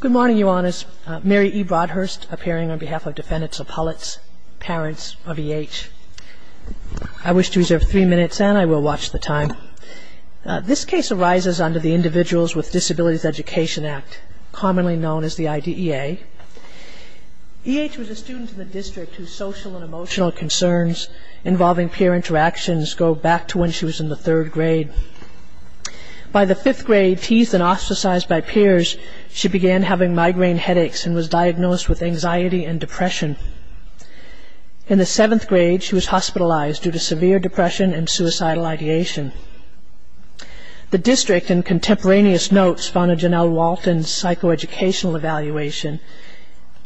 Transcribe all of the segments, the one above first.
Good morning, Your Honors. Mary E. Broadhurst appearing on behalf of Defendants of Hullett's Parents of E.H. I wish to reserve three minutes and I will watch the time. This case arises under the Individuals with Disabilities Education Act, commonly known as the IDEA. E.H. was a student in the district whose social and emotional concerns involving peer interactions go back to when she was in the third grade. By the fifth grade, teased and ostracized by peers, she began having migraine headaches and was diagnosed with anxiety and depression. In the seventh grade, she was hospitalized due to severe depression and suicidal ideation. The district, in contemporaneous notes, found in Janelle Walton's psychoeducational evaluation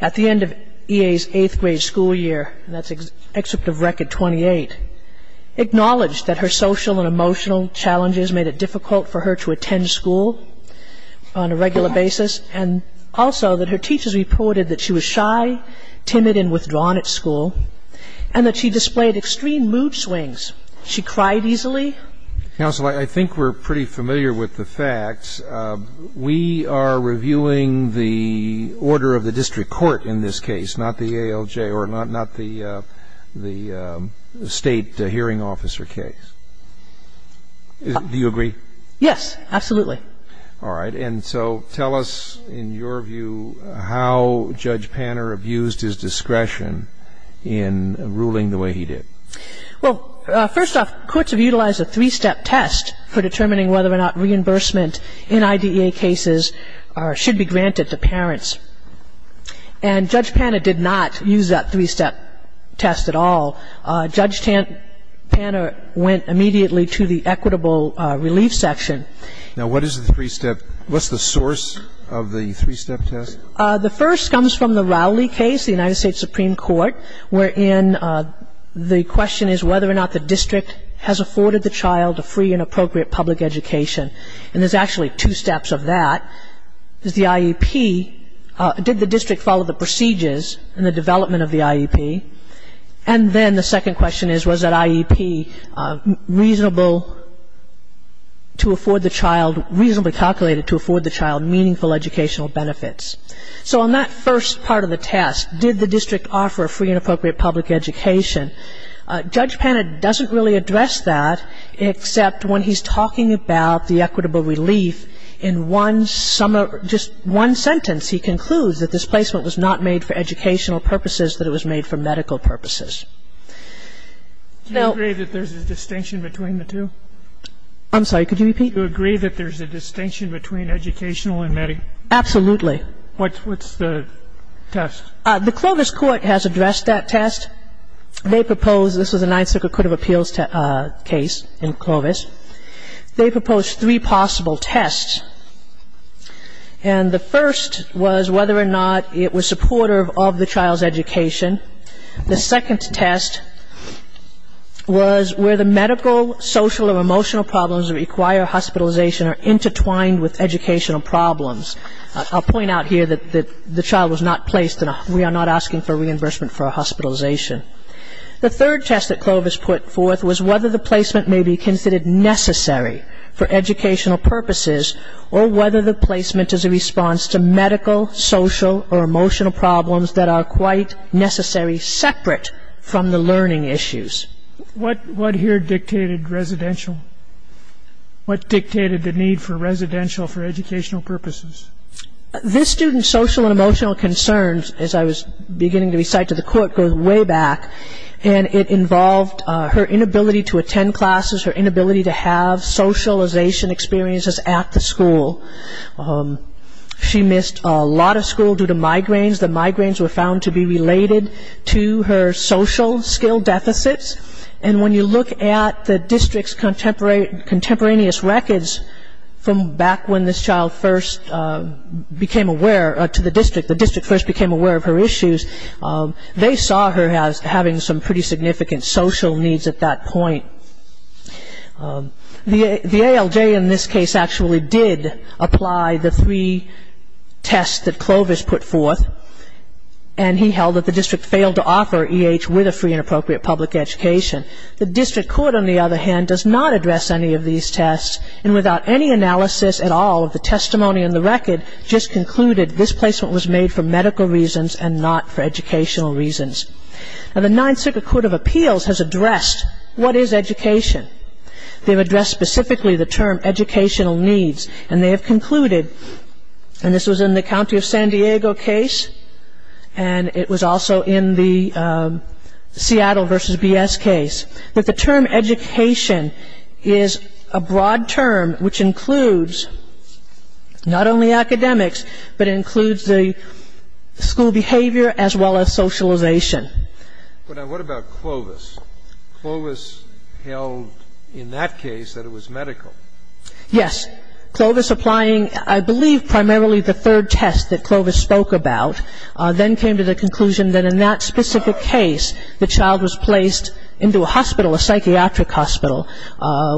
at the end of E.H.'s eighth grade school year, and that's excerpt of Record 28, acknowledged that her social and emotional challenges made it difficult for her to attend school on a regular basis, and also that her teachers reported that she was shy, timid, and withdrawn at school, and that she displayed extreme mood swings. She cried easily. Counsel, I think we're pretty familiar with the facts. We are reviewing the order of the case. Do you agree? Yes, absolutely. All right. And so tell us, in your view, how Judge Panner abused his discretion in ruling the way he did. Well, first off, courts have utilized a three-step test for determining whether or not reimbursement in IDEA cases should be granted to parents. And Judge Panner did not use that three-step test at all. Judge Panner went immediately to the equitable relief section. Now, what is the three-step? What's the source of the three-step test? The first comes from the Rowley case, the United States Supreme Court, wherein the question is whether or not the district has afforded the child a free and appropriate public education. And there's actually two steps of that. The IEP, did the district follow the procedures in the development of the IEP? And then the second question is, was that IEP reasonable to afford the child, reasonably calculated to afford the child meaningful educational benefits? So on that first part of the test, did the district offer a free and appropriate public education, Judge Panner doesn't really address that, except when he's talking about the equitable relief, in one summary, just one sentence, he concludes that this placement was not made for educational purposes, that it was made for medical purposes. Do you agree that there's a distinction between the two? I'm sorry, could you repeat? Do you agree that there's a distinction between educational and medical? Absolutely. What's the test? The Clovis Court has addressed that test. They propose, this was a Ninth Circuit of Appeals case in Clovis, they proposed three possible tests. And the first was whether or not it was supportive of the child's education. The second test was where the medical, social or emotional problems that require hospitalization are intertwined with educational problems. I'll point out here that the child was not placed in a, we are not asking for reimbursement for a hospitalization. The third test that Clovis put forth was whether the placement may be considered necessary for educational purposes, or whether the placement is a response to medical, social or emotional problems that are quite necessary separate from the learning issues. What here dictated residential? What dictated the need for residential for educational purposes? This student's social and emotional concerns, as I was beginning to recite to the court, goes way back. And it involved her inability to attend classes, her inability to have socialization experiences at the school. She missed a lot of school due to migraines. The migraines were found to be related to her social skill deficits. And when you look at the district's contemporaneous records from back when this child first became aware, to the district, the district first became aware of her issues, they saw her as having some pretty significant social needs at that point. The ALJ in this case actually did apply the three tests that Clovis put forth. And he held that the district failed to offer EH with a free and appropriate public education. The district court, on the other hand, does not address any of these tests. And without any analysis at all of the testimony in the record, just concluded this placement was made for medical reasons and not for educational reasons. Now, the Ninth Circuit Court of Appeals has addressed what is education. They've addressed specifically the term educational needs. And they have concluded, and this was in the County of San Diego case, and it was also in the Seattle versus BS case, that the term education is a broad term which includes not only academics, but it includes the school behavior as well as socialization. But now, what about Clovis? Clovis held in that case that it was medical. Yes. Clovis applying, I believe, primarily the third test that Clovis spoke about, then came to the conclusion that in that specific case, the child was placed into a hospital, a psychiatric hospital,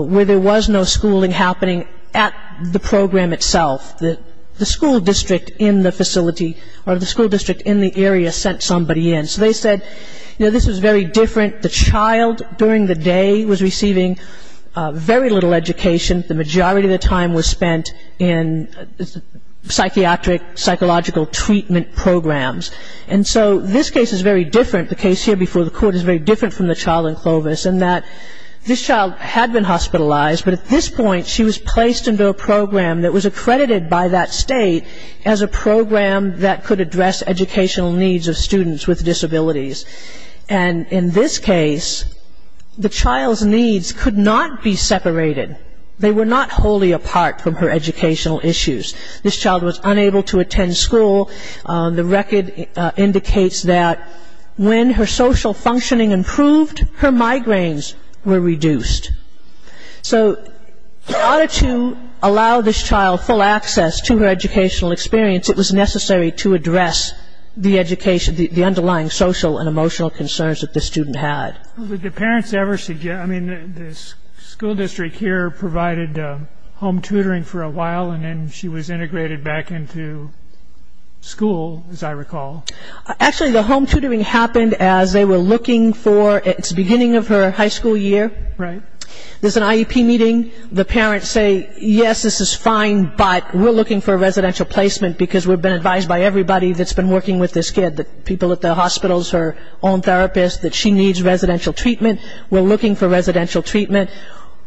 where there was no schooling happening at the program itself. The school district in the facility or the school district in the area sent somebody in. So they said, you know, this was very different. The child during the day was receiving very little education. The majority of the time was spent in psychiatric, psychological treatment programs. And so this case is very different. The case here before the court is very different from the child in Clovis in that this child had been hospitalized, but at this point she was placed into a program that was accredited by that state as a program that could address educational needs of students with disabilities. And in this case, the child's needs could not be separated. They were not wholly apart from her educational issues. This child was unable to attend school. The record indicates that when her social functioning improved, her migraines were reduced. So in order to allow this child full access to her educational experience, it was necessary to address the education, the underlying social and emotional concerns that the student had. But did the parents ever suggest, I mean, the school district here provided home tutoring for a while, and then she was integrated back into school, as I recall. Actually, the home tutoring happened as they were looking for, it's the beginning of her high school year. Right. There's an IEP meeting. The parents say, yes, this is fine, but we're looking for a residential placement because we've been advised by everybody that's been working with this kid, the people at the hospitals, her own therapist, that she needs residential treatment. We're looking for residential treatment.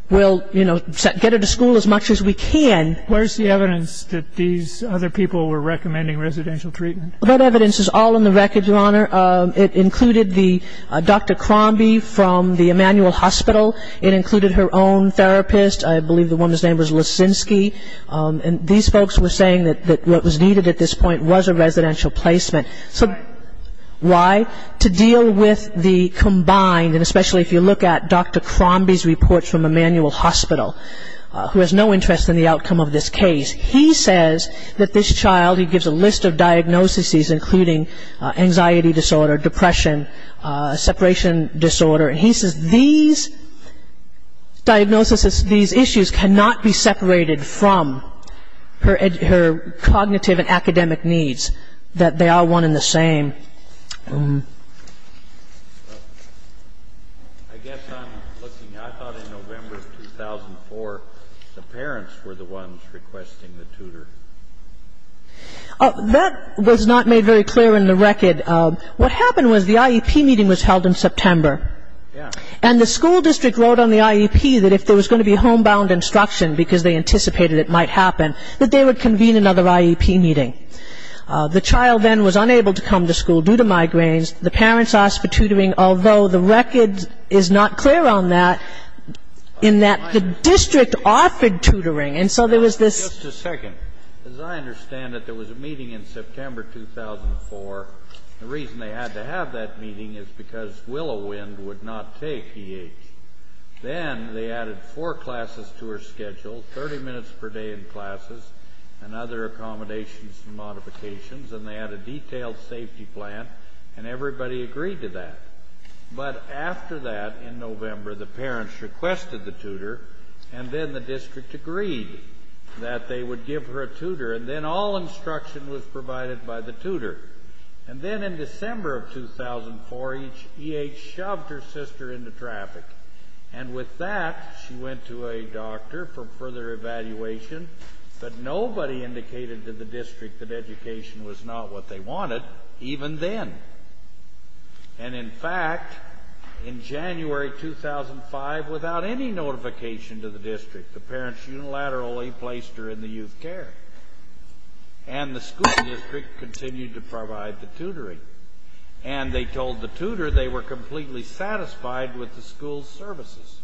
We'll, you know, get her to school as much as we can. Where's the evidence that these other people were recommending residential treatment? That evidence is all in the records, Your Honor. It included the Dr. Crombie from the Emanuel Hospital. It included her own therapist. I believe the woman's name was Lissinsky. And these folks were saying that what was needed at this point was a residential placement. So why? To deal with the combined, and especially if you look at Dr. Crombie's reports from Emanuel Hospital, who has no interest in the outcome of this case. He says that this child, he gives a list of diagnoses, including anxiety disorder, depression, separation disorder. And he says these diagnoses, these issues cannot be separated from her cognitive and academic needs, that they are one and the same. I guess I'm looking. I thought in November of 2004 the parents were the ones requesting the tutor. That was not made very clear in the record. What happened was the IEP meeting was held in September. And the school district wrote on the IEP that if there was going to be homebound instruction, because they anticipated it might happen, that they would convene another IEP meeting. The child then was unable to come to school due to migraines. The parents asked for tutoring, although the record is not clear on that, in that the district offered tutoring. And so there was this ‑‑ Just a second. As I understand it, there was a meeting in September 2004. The reason they had to have that meeting is because Willow Wind would not take EH. Then they added four classes to her schedule, 30 minutes per day in classes, and other accommodations and modifications, and they had a detailed safety plan, and everybody agreed to that. But after that, in November, the parents requested the tutor, and then the district agreed that they would give her a tutor, and then all instruction was provided by the tutor. And then in December of 2004, EH shoved her sister into traffic. And with that, she went to a doctor for further evaluation, but nobody indicated to the district that education was not what they wanted, even then. And, in fact, in January 2005, without any notification to the district, the parents unilaterally placed her in the youth care. And the school district continued to provide the tutoring. And they told the tutor they were completely satisfied with the school's services.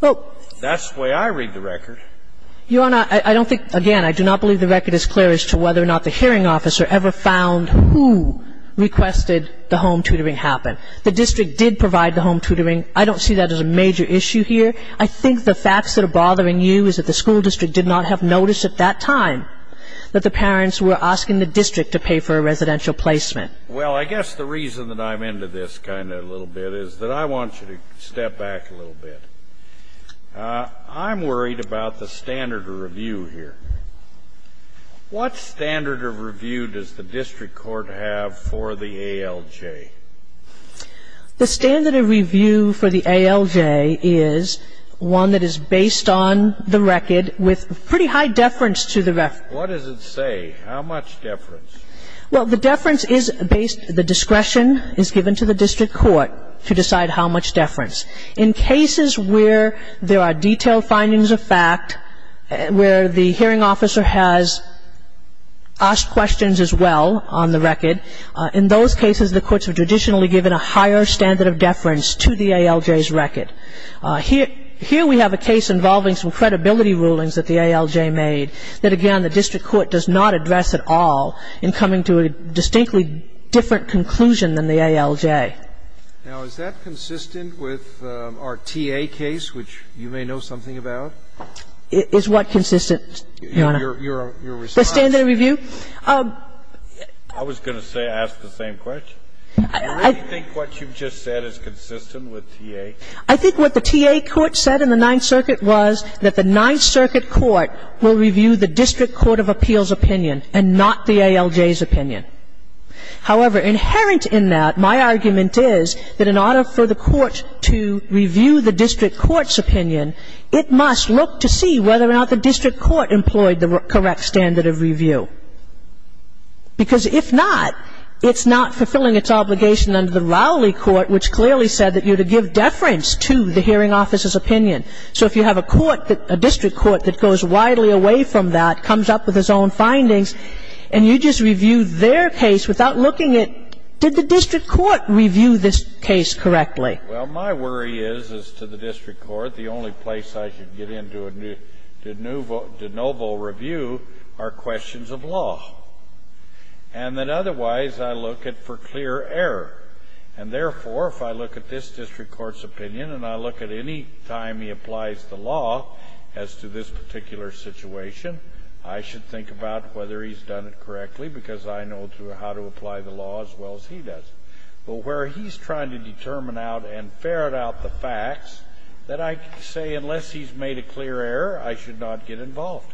That's the way I read the record. Your Honor, I don't think ‑‑ again, I do not believe the record is clear as to whether or not the hearing officer ever found who requested the home tutoring happen. The district did provide the home tutoring. I don't see that as a major issue here. I think the facts that are bothering you is that the school district did not have notice at that time that the parents were asking the district to pay for a residential placement. Well, I guess the reason that I'm into this kind of a little bit is that I want you to step back a little bit. I'm worried about the standard of review here. What standard of review does the district court have for the ALJ? The standard of review for the ALJ is one that is based on the record with pretty high deference to the ‑‑ What does it say? How much deference? Well, the deference is based ‑‑ the discretion is given to the district court to decide how much deference. In cases where there are detailed findings of fact, where the hearing officer has asked questions as well on the record, in those cases the courts have traditionally given a higher standard of deference to the ALJ's record. Here we have a case involving some credibility rulings that the ALJ made that, again, the district court does not address at all in coming to a distinctly different conclusion than the ALJ. Now, is that consistent with our TA case, which you may know something about? Is what consistent, Your Honor? Your response? The standard of review? I was going to ask the same question. Do you really think what you've just said is consistent with TA? I think what the TA court said in the Ninth Circuit was that the Ninth Circuit court will review the district court of appeal's opinion and not the ALJ's opinion. However, inherent in that, my argument is that in order for the court to review the district court's opinion, it must look to see whether or not the district court employed the correct standard of review. Because if not, it's not fulfilling its obligation under the Rowley court, which clearly said that you're to give deference to the hearing officer's opinion. So if you have a court that — a district court that goes widely away from that, comes up with its own findings, and you just review their case without looking at, did the district court review this case correctly? Well, my worry is, as to the district court, the only place I should get into a de novo review are questions of law. And that otherwise, I look at for clear error. And therefore, if I look at this district court's opinion, and I look at any time he applies the law as to this particular situation, I should think about whether he's done it correctly, because I know how to apply the law as well as he does. But where he's trying to determine out and ferret out the facts, that I say, unless he's made a clear error, I should not get involved.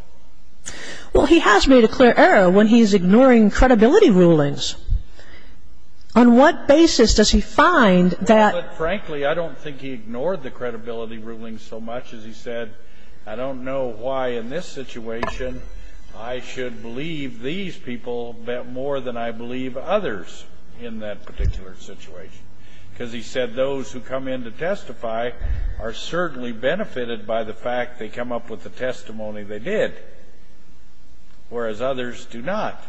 Well, he has made a clear error when he's ignoring credibility rulings. On what basis does he find that — Well, but frankly, I don't think he ignored the credibility rulings so much as he said, I don't know why in this situation I should believe these people more than I believe others in that particular situation. Because he said those who come in to testify are certainly benefited by the fact they come up with the testimony they did, whereas others do not.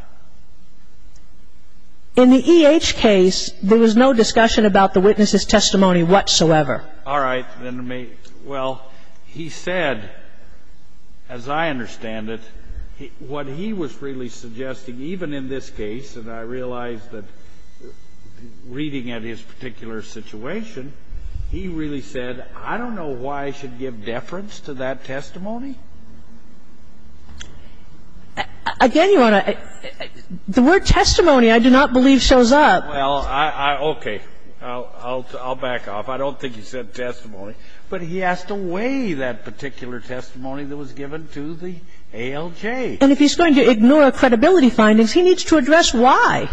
In the E.H. case, there was no discussion about the witness's testimony whatsoever. All right. Well, he said, as I understand it, what he was really suggesting, even in this case and I realize that reading at his particular situation, he really said, I don't know why I should give deference to that testimony. Again, Your Honor, the word testimony, I do not believe, shows up. Well, I — okay. I'll back off. I don't think he said testimony. But he asked to weigh that particular testimony that was given to the ALJ. And if he's going to ignore credibility findings, he needs to address why.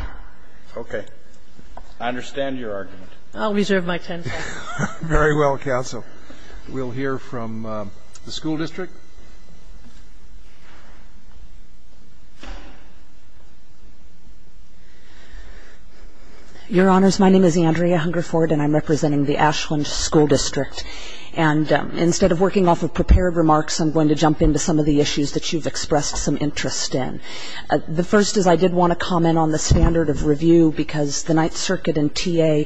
Okay. I understand your argument. I'll reserve my time. Very well, counsel. We'll hear from the school district. Your Honors, my name is Andrea Hungerford, and I'm representing the Ashland School District. And instead of working off of prepared remarks, I'm going to jump into some of the issues that you've expressed some interest in. The first is I did want to comment on the standard of review, because the Ninth Circuit and TA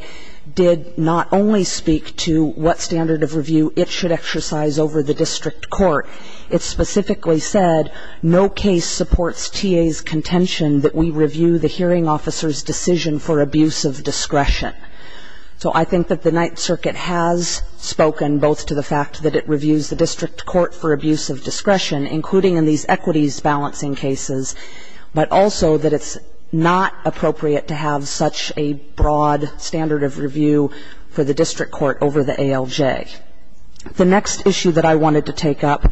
did not only speak to what standard of review it should exercise over the district court. It specifically said, no case supports TA's contention that we review the hearing officer's decision for abuse of discretion. So I think that the Ninth Circuit has spoken both to the fact that it reviews the including in these equities balancing cases, but also that it's not appropriate to have such a broad standard of review for the district court over the ALJ. The next issue that I wanted to take up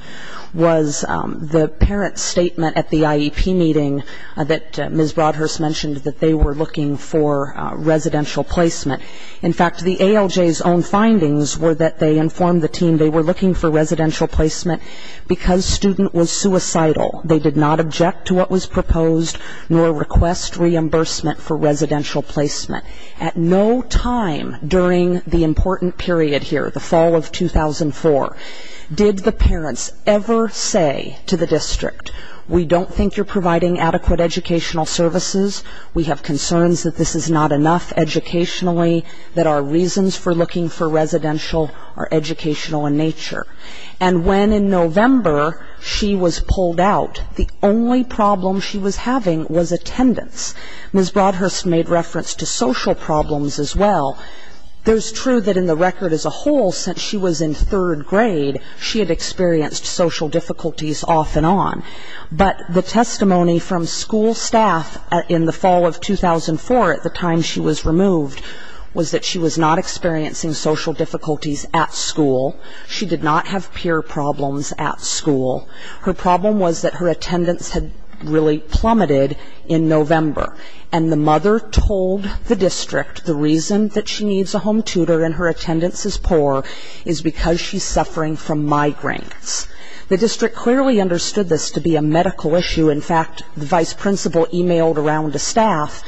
was the parent's statement at the IEP meeting that Ms. Broadhurst mentioned, that they were looking for residential placement. In fact, the ALJ's own findings were that they informed the team they were looking for residential placement because student was suicidal. They did not object to what was proposed, nor request reimbursement for residential placement. At no time during the important period here, the fall of 2004, did the parents ever say to the district, we don't think you're providing adequate educational services. We have concerns that this is not enough educationally, that our reasons for residential are educational in nature. And when in November she was pulled out, the only problem she was having was attendance. Ms. Broadhurst made reference to social problems as well. There's truth that in the record as a whole, since she was in third grade, she had experienced social difficulties off and on. But the testimony from school staff in the fall of 2004, at the time she was in third grade, she did not have social difficulties at school. She did not have peer problems at school. Her problem was that her attendance had really plummeted in November. And the mother told the district the reason that she needs a home tutor and her attendance is poor is because she's suffering from migraines. The district clearly understood this to be a medical issue. In fact, the vice principal emailed around to staff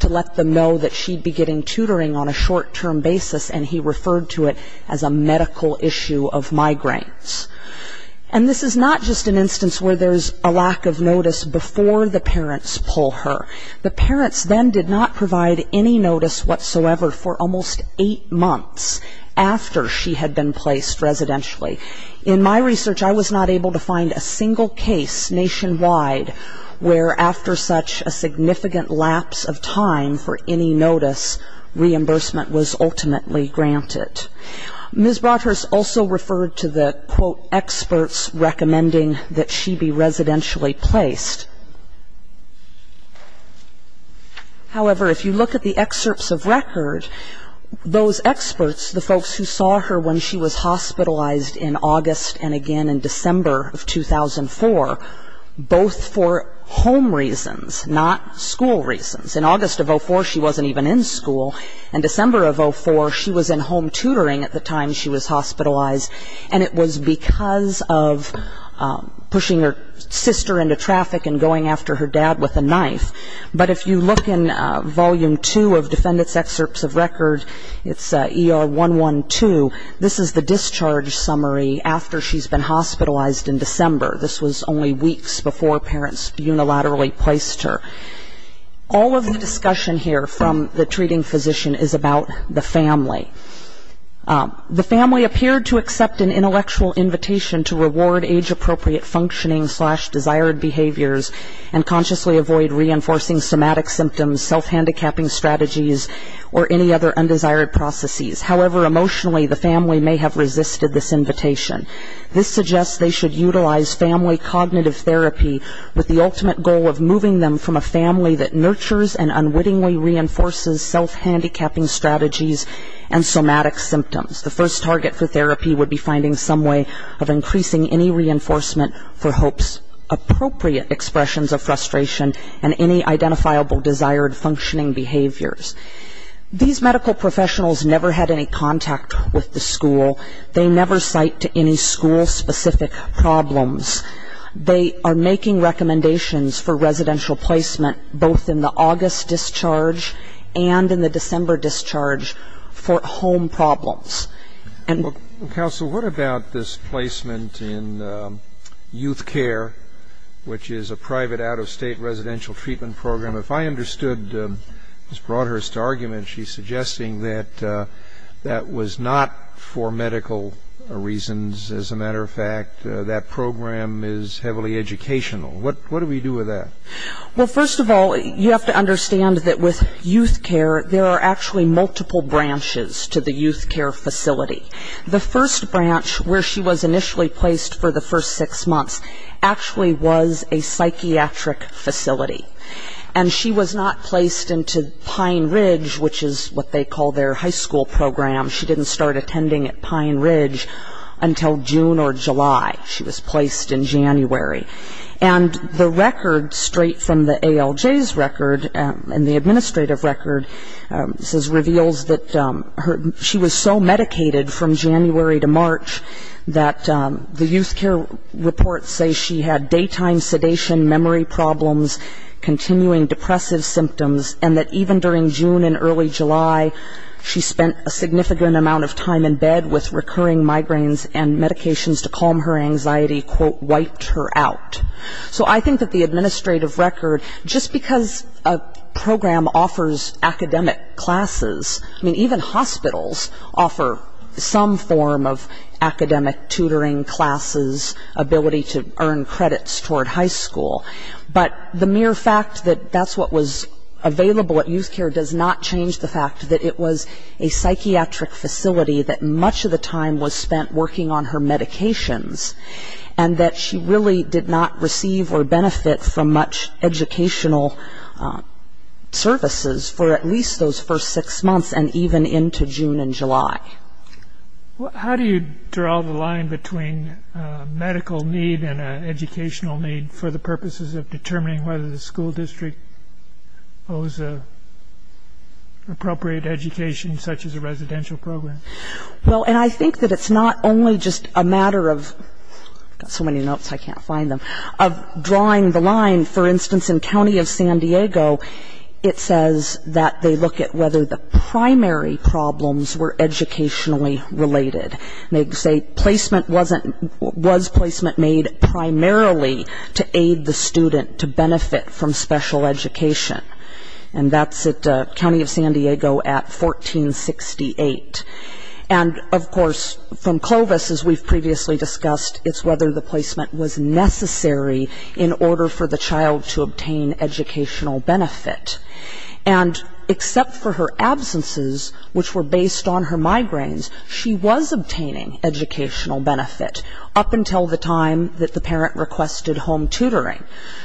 to let them know that she'd be getting tutoring on a short-term basis and he referred to it as a medical issue of migraines. And this is not just an instance where there's a lack of notice before the parents pull her. The parents then did not provide any notice whatsoever for almost eight months after she had been placed residentially. In my research, I was not able to find a single case nationwide where after such a significant lapse of time for any notice, reimbursement was ultimately granted. Ms. Broadhurst also referred to the, quote, experts recommending that she be residentially placed. However, if you look at the excerpts of record, those experts, the folks who saw her when she was hospitalized in August and again in December of 2004, both for home reasons, not school reasons. In August of 2004, she wasn't even in school. In December of 2004, she was in home tutoring at the time she was hospitalized, and it was because of pushing her sister into traffic and going after her dad with a knife. But if you look in volume two of defendant's excerpts of record, it's ER 112, this is the discharge summary after she's been hospitalized in December. This was only weeks before parents unilaterally placed her. All of the discussion here from the treating physician is about the family. The family appeared to accept an intellectual invitation to reward age appropriate functioning slash desired behaviors and consciously avoid reinforcing somatic symptoms, self-handicapping strategies, or any other undesired processes. However, emotionally, the family may have resisted this invitation. This suggests they should utilize family cognitive therapy with the ultimate goal of moving them from a family that nurtures and unwittingly reinforces self-handicapping strategies and somatic symptoms. The first target for therapy would be finding some way of increasing any reinforcement for HOPE's appropriate expressions of frustration and any identifiable desired functioning behaviors. These medical professionals never had any contact with the school. They never cite to any school-specific problems. They are making recommendations for residential placement both in the August discharge and in the December discharge for home problems. And- Counsel, what about this placement in Youth Care, which is a private out-of-state residential treatment program? If I understood Ms. Broadhurst's argument, she's suggesting that that was not for medical reasons. As a matter of fact, that program is heavily educational. What do we do with that? Well, first of all, you have to understand that with Youth Care, there are actually multiple branches to the Youth Care facility. The first branch, where she was initially placed for the first six months, actually was a psychiatric facility. And she was not placed into Pine Ridge, which is what they call their high school program. She didn't start attending at Pine Ridge until June or July. She was placed in January. And the record straight from the ALJ's record and the administrative record says reveals that she was so medicated from January to March that the Youth Care reports say she had daytime sedation, memory problems, continuing depressive symptoms, and that even during June and early July, she spent a significant amount of time in bed with recurring migraines and medications to calm her anxiety, quote, wiped her out. So I think that the administrative record, just because a program offers academic classes, I mean, even hospitals offer some form of academic tutoring classes, ability to earn credits toward high school. But the mere fact that that's what was available at Youth Care does not change the fact that it was a psychiatric facility that much of the time was spent working on her medications and that she really did not receive or benefit from much educational services for at least those first six months and even into June and July. How do you draw the line between medical need and educational need for the purposes of determining whether the school district owes appropriate education such as a residential program? Well, and I think that it's not only just a matter of, I've got so many notes I can't find them, of drawing the line, for instance, in County of San Diego, it says that they look at whether the primary problems were educationally related. And they say placement wasn't, was placement made primarily to aid the student to benefit from special education. And that's at County of San Diego at 1468. And of course, from Clovis, as we've previously discussed, it's whether the placement was necessary in order for the child to obtain educational benefit. And except for her absences, which were based on her migraines, she was obtaining educational benefit up until the time that the parent requested home tutoring.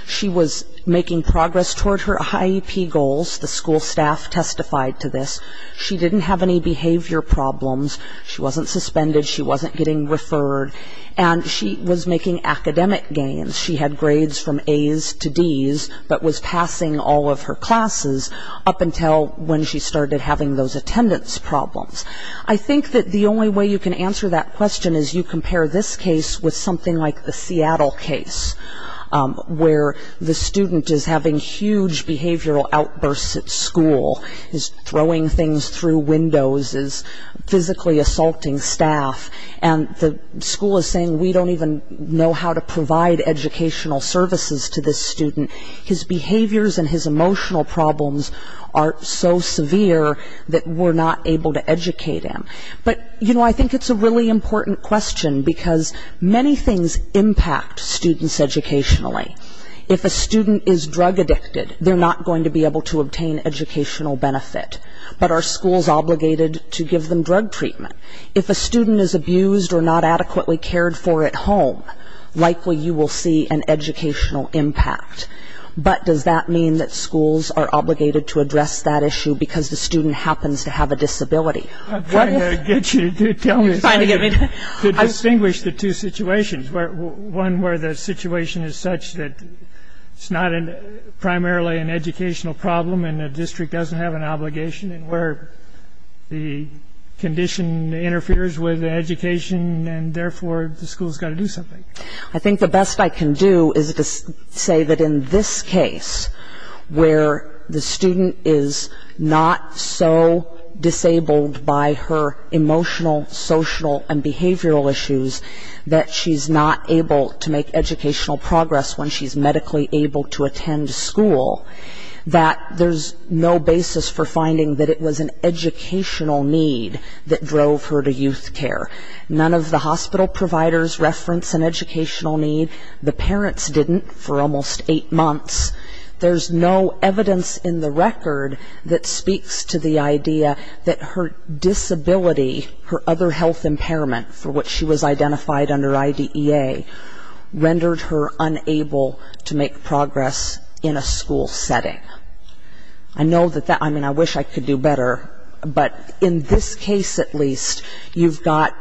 She was making progress toward her IEP goals. The school staff testified to this. She didn't have any behavior problems. She wasn't suspended. She wasn't getting referred. And she was making academic gains. She had grades from A's to D's, but was passing all of her classes up until when she started having those attendance problems. I think that the only way you can answer that question is you compare this case with something like the Seattle case, where the student is having huge behavioral outbursts at school. Is throwing things through windows, is physically assaulting staff. And the school is saying, we don't even know how to provide educational services to this student. His behaviors and his emotional problems are so severe that we're not able to educate him. But, you know, I think it's a really important question, because many things impact students educationally. If a student is drug addicted, they're not going to be able to obtain educational benefit. But are schools obligated to give them drug treatment? If a student is abused or not adequately cared for at home, likely you will see an educational impact. But does that mean that schools are obligated to address that issue because the student happens to have a disability? I'm trying to get you to tell me to distinguish the two situations. One where the situation is such that it's not primarily an educational problem, and the district doesn't have an obligation. And where the condition interferes with education, and therefore the school's got to do something. I think the best I can do is to say that in this case, where the student is not so disabled by her emotional, social, and behavioral issues, that she's not able to make educational progress when she's medically able to attend school, that there's no basis for finding that it was an educational need that drove her to youth care. None of the hospital providers reference an educational need. The parents didn't for almost eight months. There's no evidence in the record that speaks to the idea that her disability, her other health impairment, for which she was identified under IDEA, rendered her unable to make progress in a school setting. I know that that, I mean, I wish I could do better. But in this case, at least, you've got,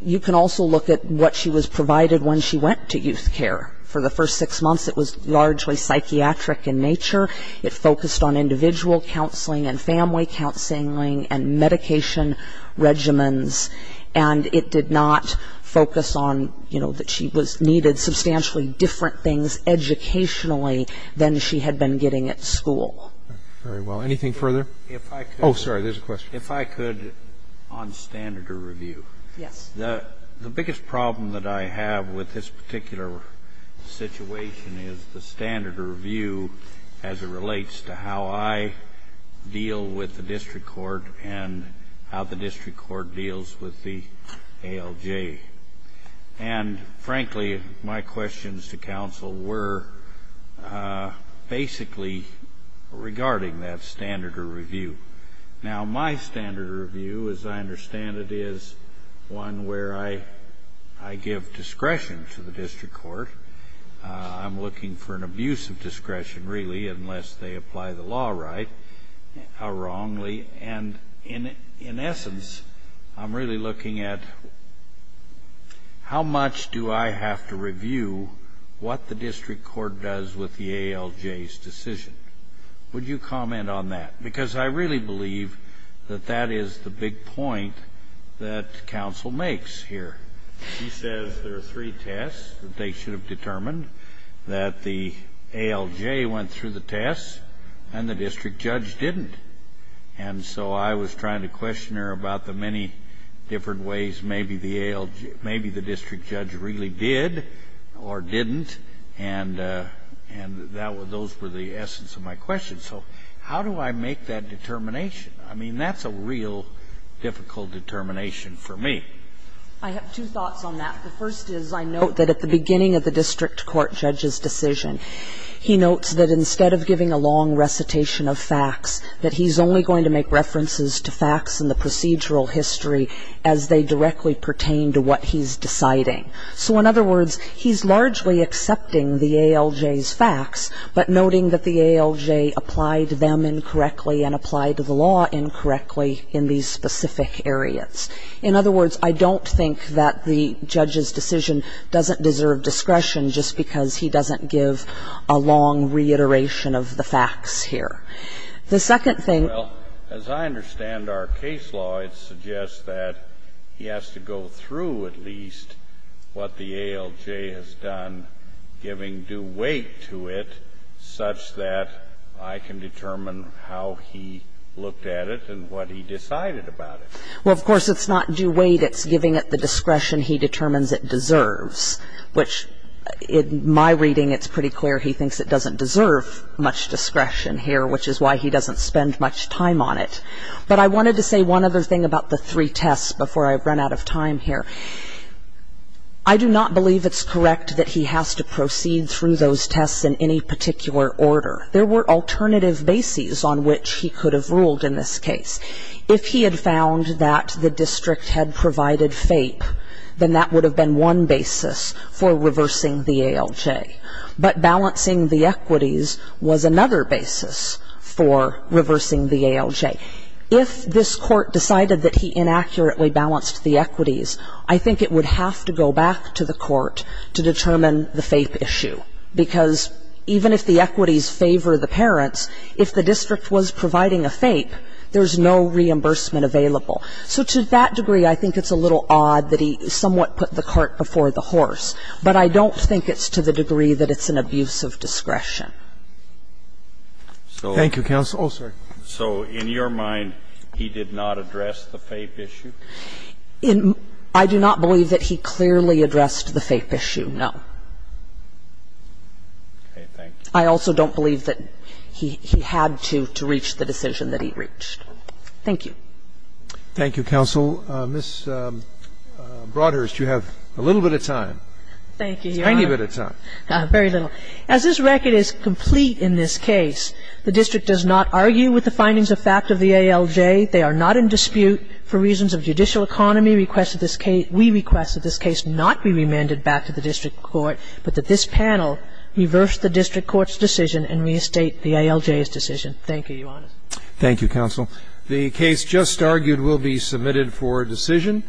you can also look at what she was provided when she went to youth care. For the first six months, it was largely psychiatric in nature. It focused on individual counseling and family counseling and medication regimens, and it did not focus on, you know, that she was needed substantially different things educationally than she had been getting at school. Very well. Anything further? If I could. Oh, sorry, there's a question. If I could, on standard or review. Yes. The biggest problem that I have with this particular situation is the standard or review as it relates to how I deal with the district court and how the district court deals with the ALJ. And frankly, my questions to counsel were basically regarding that standard or review. Now, my standard or review, as I understand it, is one where I give discretion to the district court. I'm looking for an abuse of discretion, really, unless they apply the law right, how wrongly, and in essence, I'm really looking at how much do I have to review what the district court does with the ALJ's decision? Would you comment on that? Because I really believe that that is the big point that counsel makes here. He says there are three tests that they should have determined, that the ALJ went through the tests and the district judge didn't. And so I was trying to question her about the many different ways maybe the district judge really did or didn't, and those were the essence of my question. So how do I make that determination? I mean, that's a real difficult determination for me. I have two thoughts on that. The first is I note that at the beginning of the district court judge's decision, he notes that instead of giving a long recitation of facts, that he's only going to make references to facts in the procedural history as they directly pertain to what he's deciding. So in other words, he's largely accepting the ALJ's facts, but noting that the ALJ applied them incorrectly and applied the law incorrectly in these specific areas. In other words, I don't think that the judge's decision doesn't deserve discretion just because he doesn't give a long reiteration of the facts here. The second thing --- Well, as I understand our case law, it suggests that he has to go through at least what the ALJ has done, giving due weight to it such that I can determine how he looked at it and what he decided about it. Well, of course, it's not due weight. It's giving it the discretion he determines it deserves, which in my reading, it's pretty clear he thinks it doesn't deserve much discretion here, which is why he doesn't spend much time on it. But I wanted to say one other thing about the three tests before I run out of time here. I do not believe it's correct that he has to proceed through those tests in any particular order. There were alternative bases on which he could have ruled in this case. If he had found that the district had provided FAPE, then that would have been one basis for reversing the ALJ. But balancing the equities was another basis for reversing the ALJ. If this Court decided that he inaccurately balanced the equities, I think it would have to go back to the Court to determine the FAPE issue. Because even if the equities favor the parents, if the district was providing a FAPE, there's no reimbursement available. So to that degree, I think it's a little odd that he somewhat put the cart before the horse. But I don't think it's to the degree that it's an abuse of discretion. But I don't think it's to the degree that it's an abuse of discretion. Thank you, counsel. Oh, sorry. So in your mind, he did not address the FAPE issue? I do not believe that he clearly addressed the FAPE issue, no. I also don't believe that he had to, to reach the decision that he reached. Thank you. Thank you, counsel. Ms. Broadhurst, you have a little bit of time. Thank you, Your Honor. A tiny bit of time. Very little. As this record is complete in this case, the district does not argue with the findings of fact of the ALJ. They are not in dispute for reasons of judicial economy. We request that this case not be remanded back to the district court, but that this panel reverse the district court's decision and reestate the ALJ's decision. Thank you, Your Honor. Thank you, counsel. The case just argued will be submitted for decision.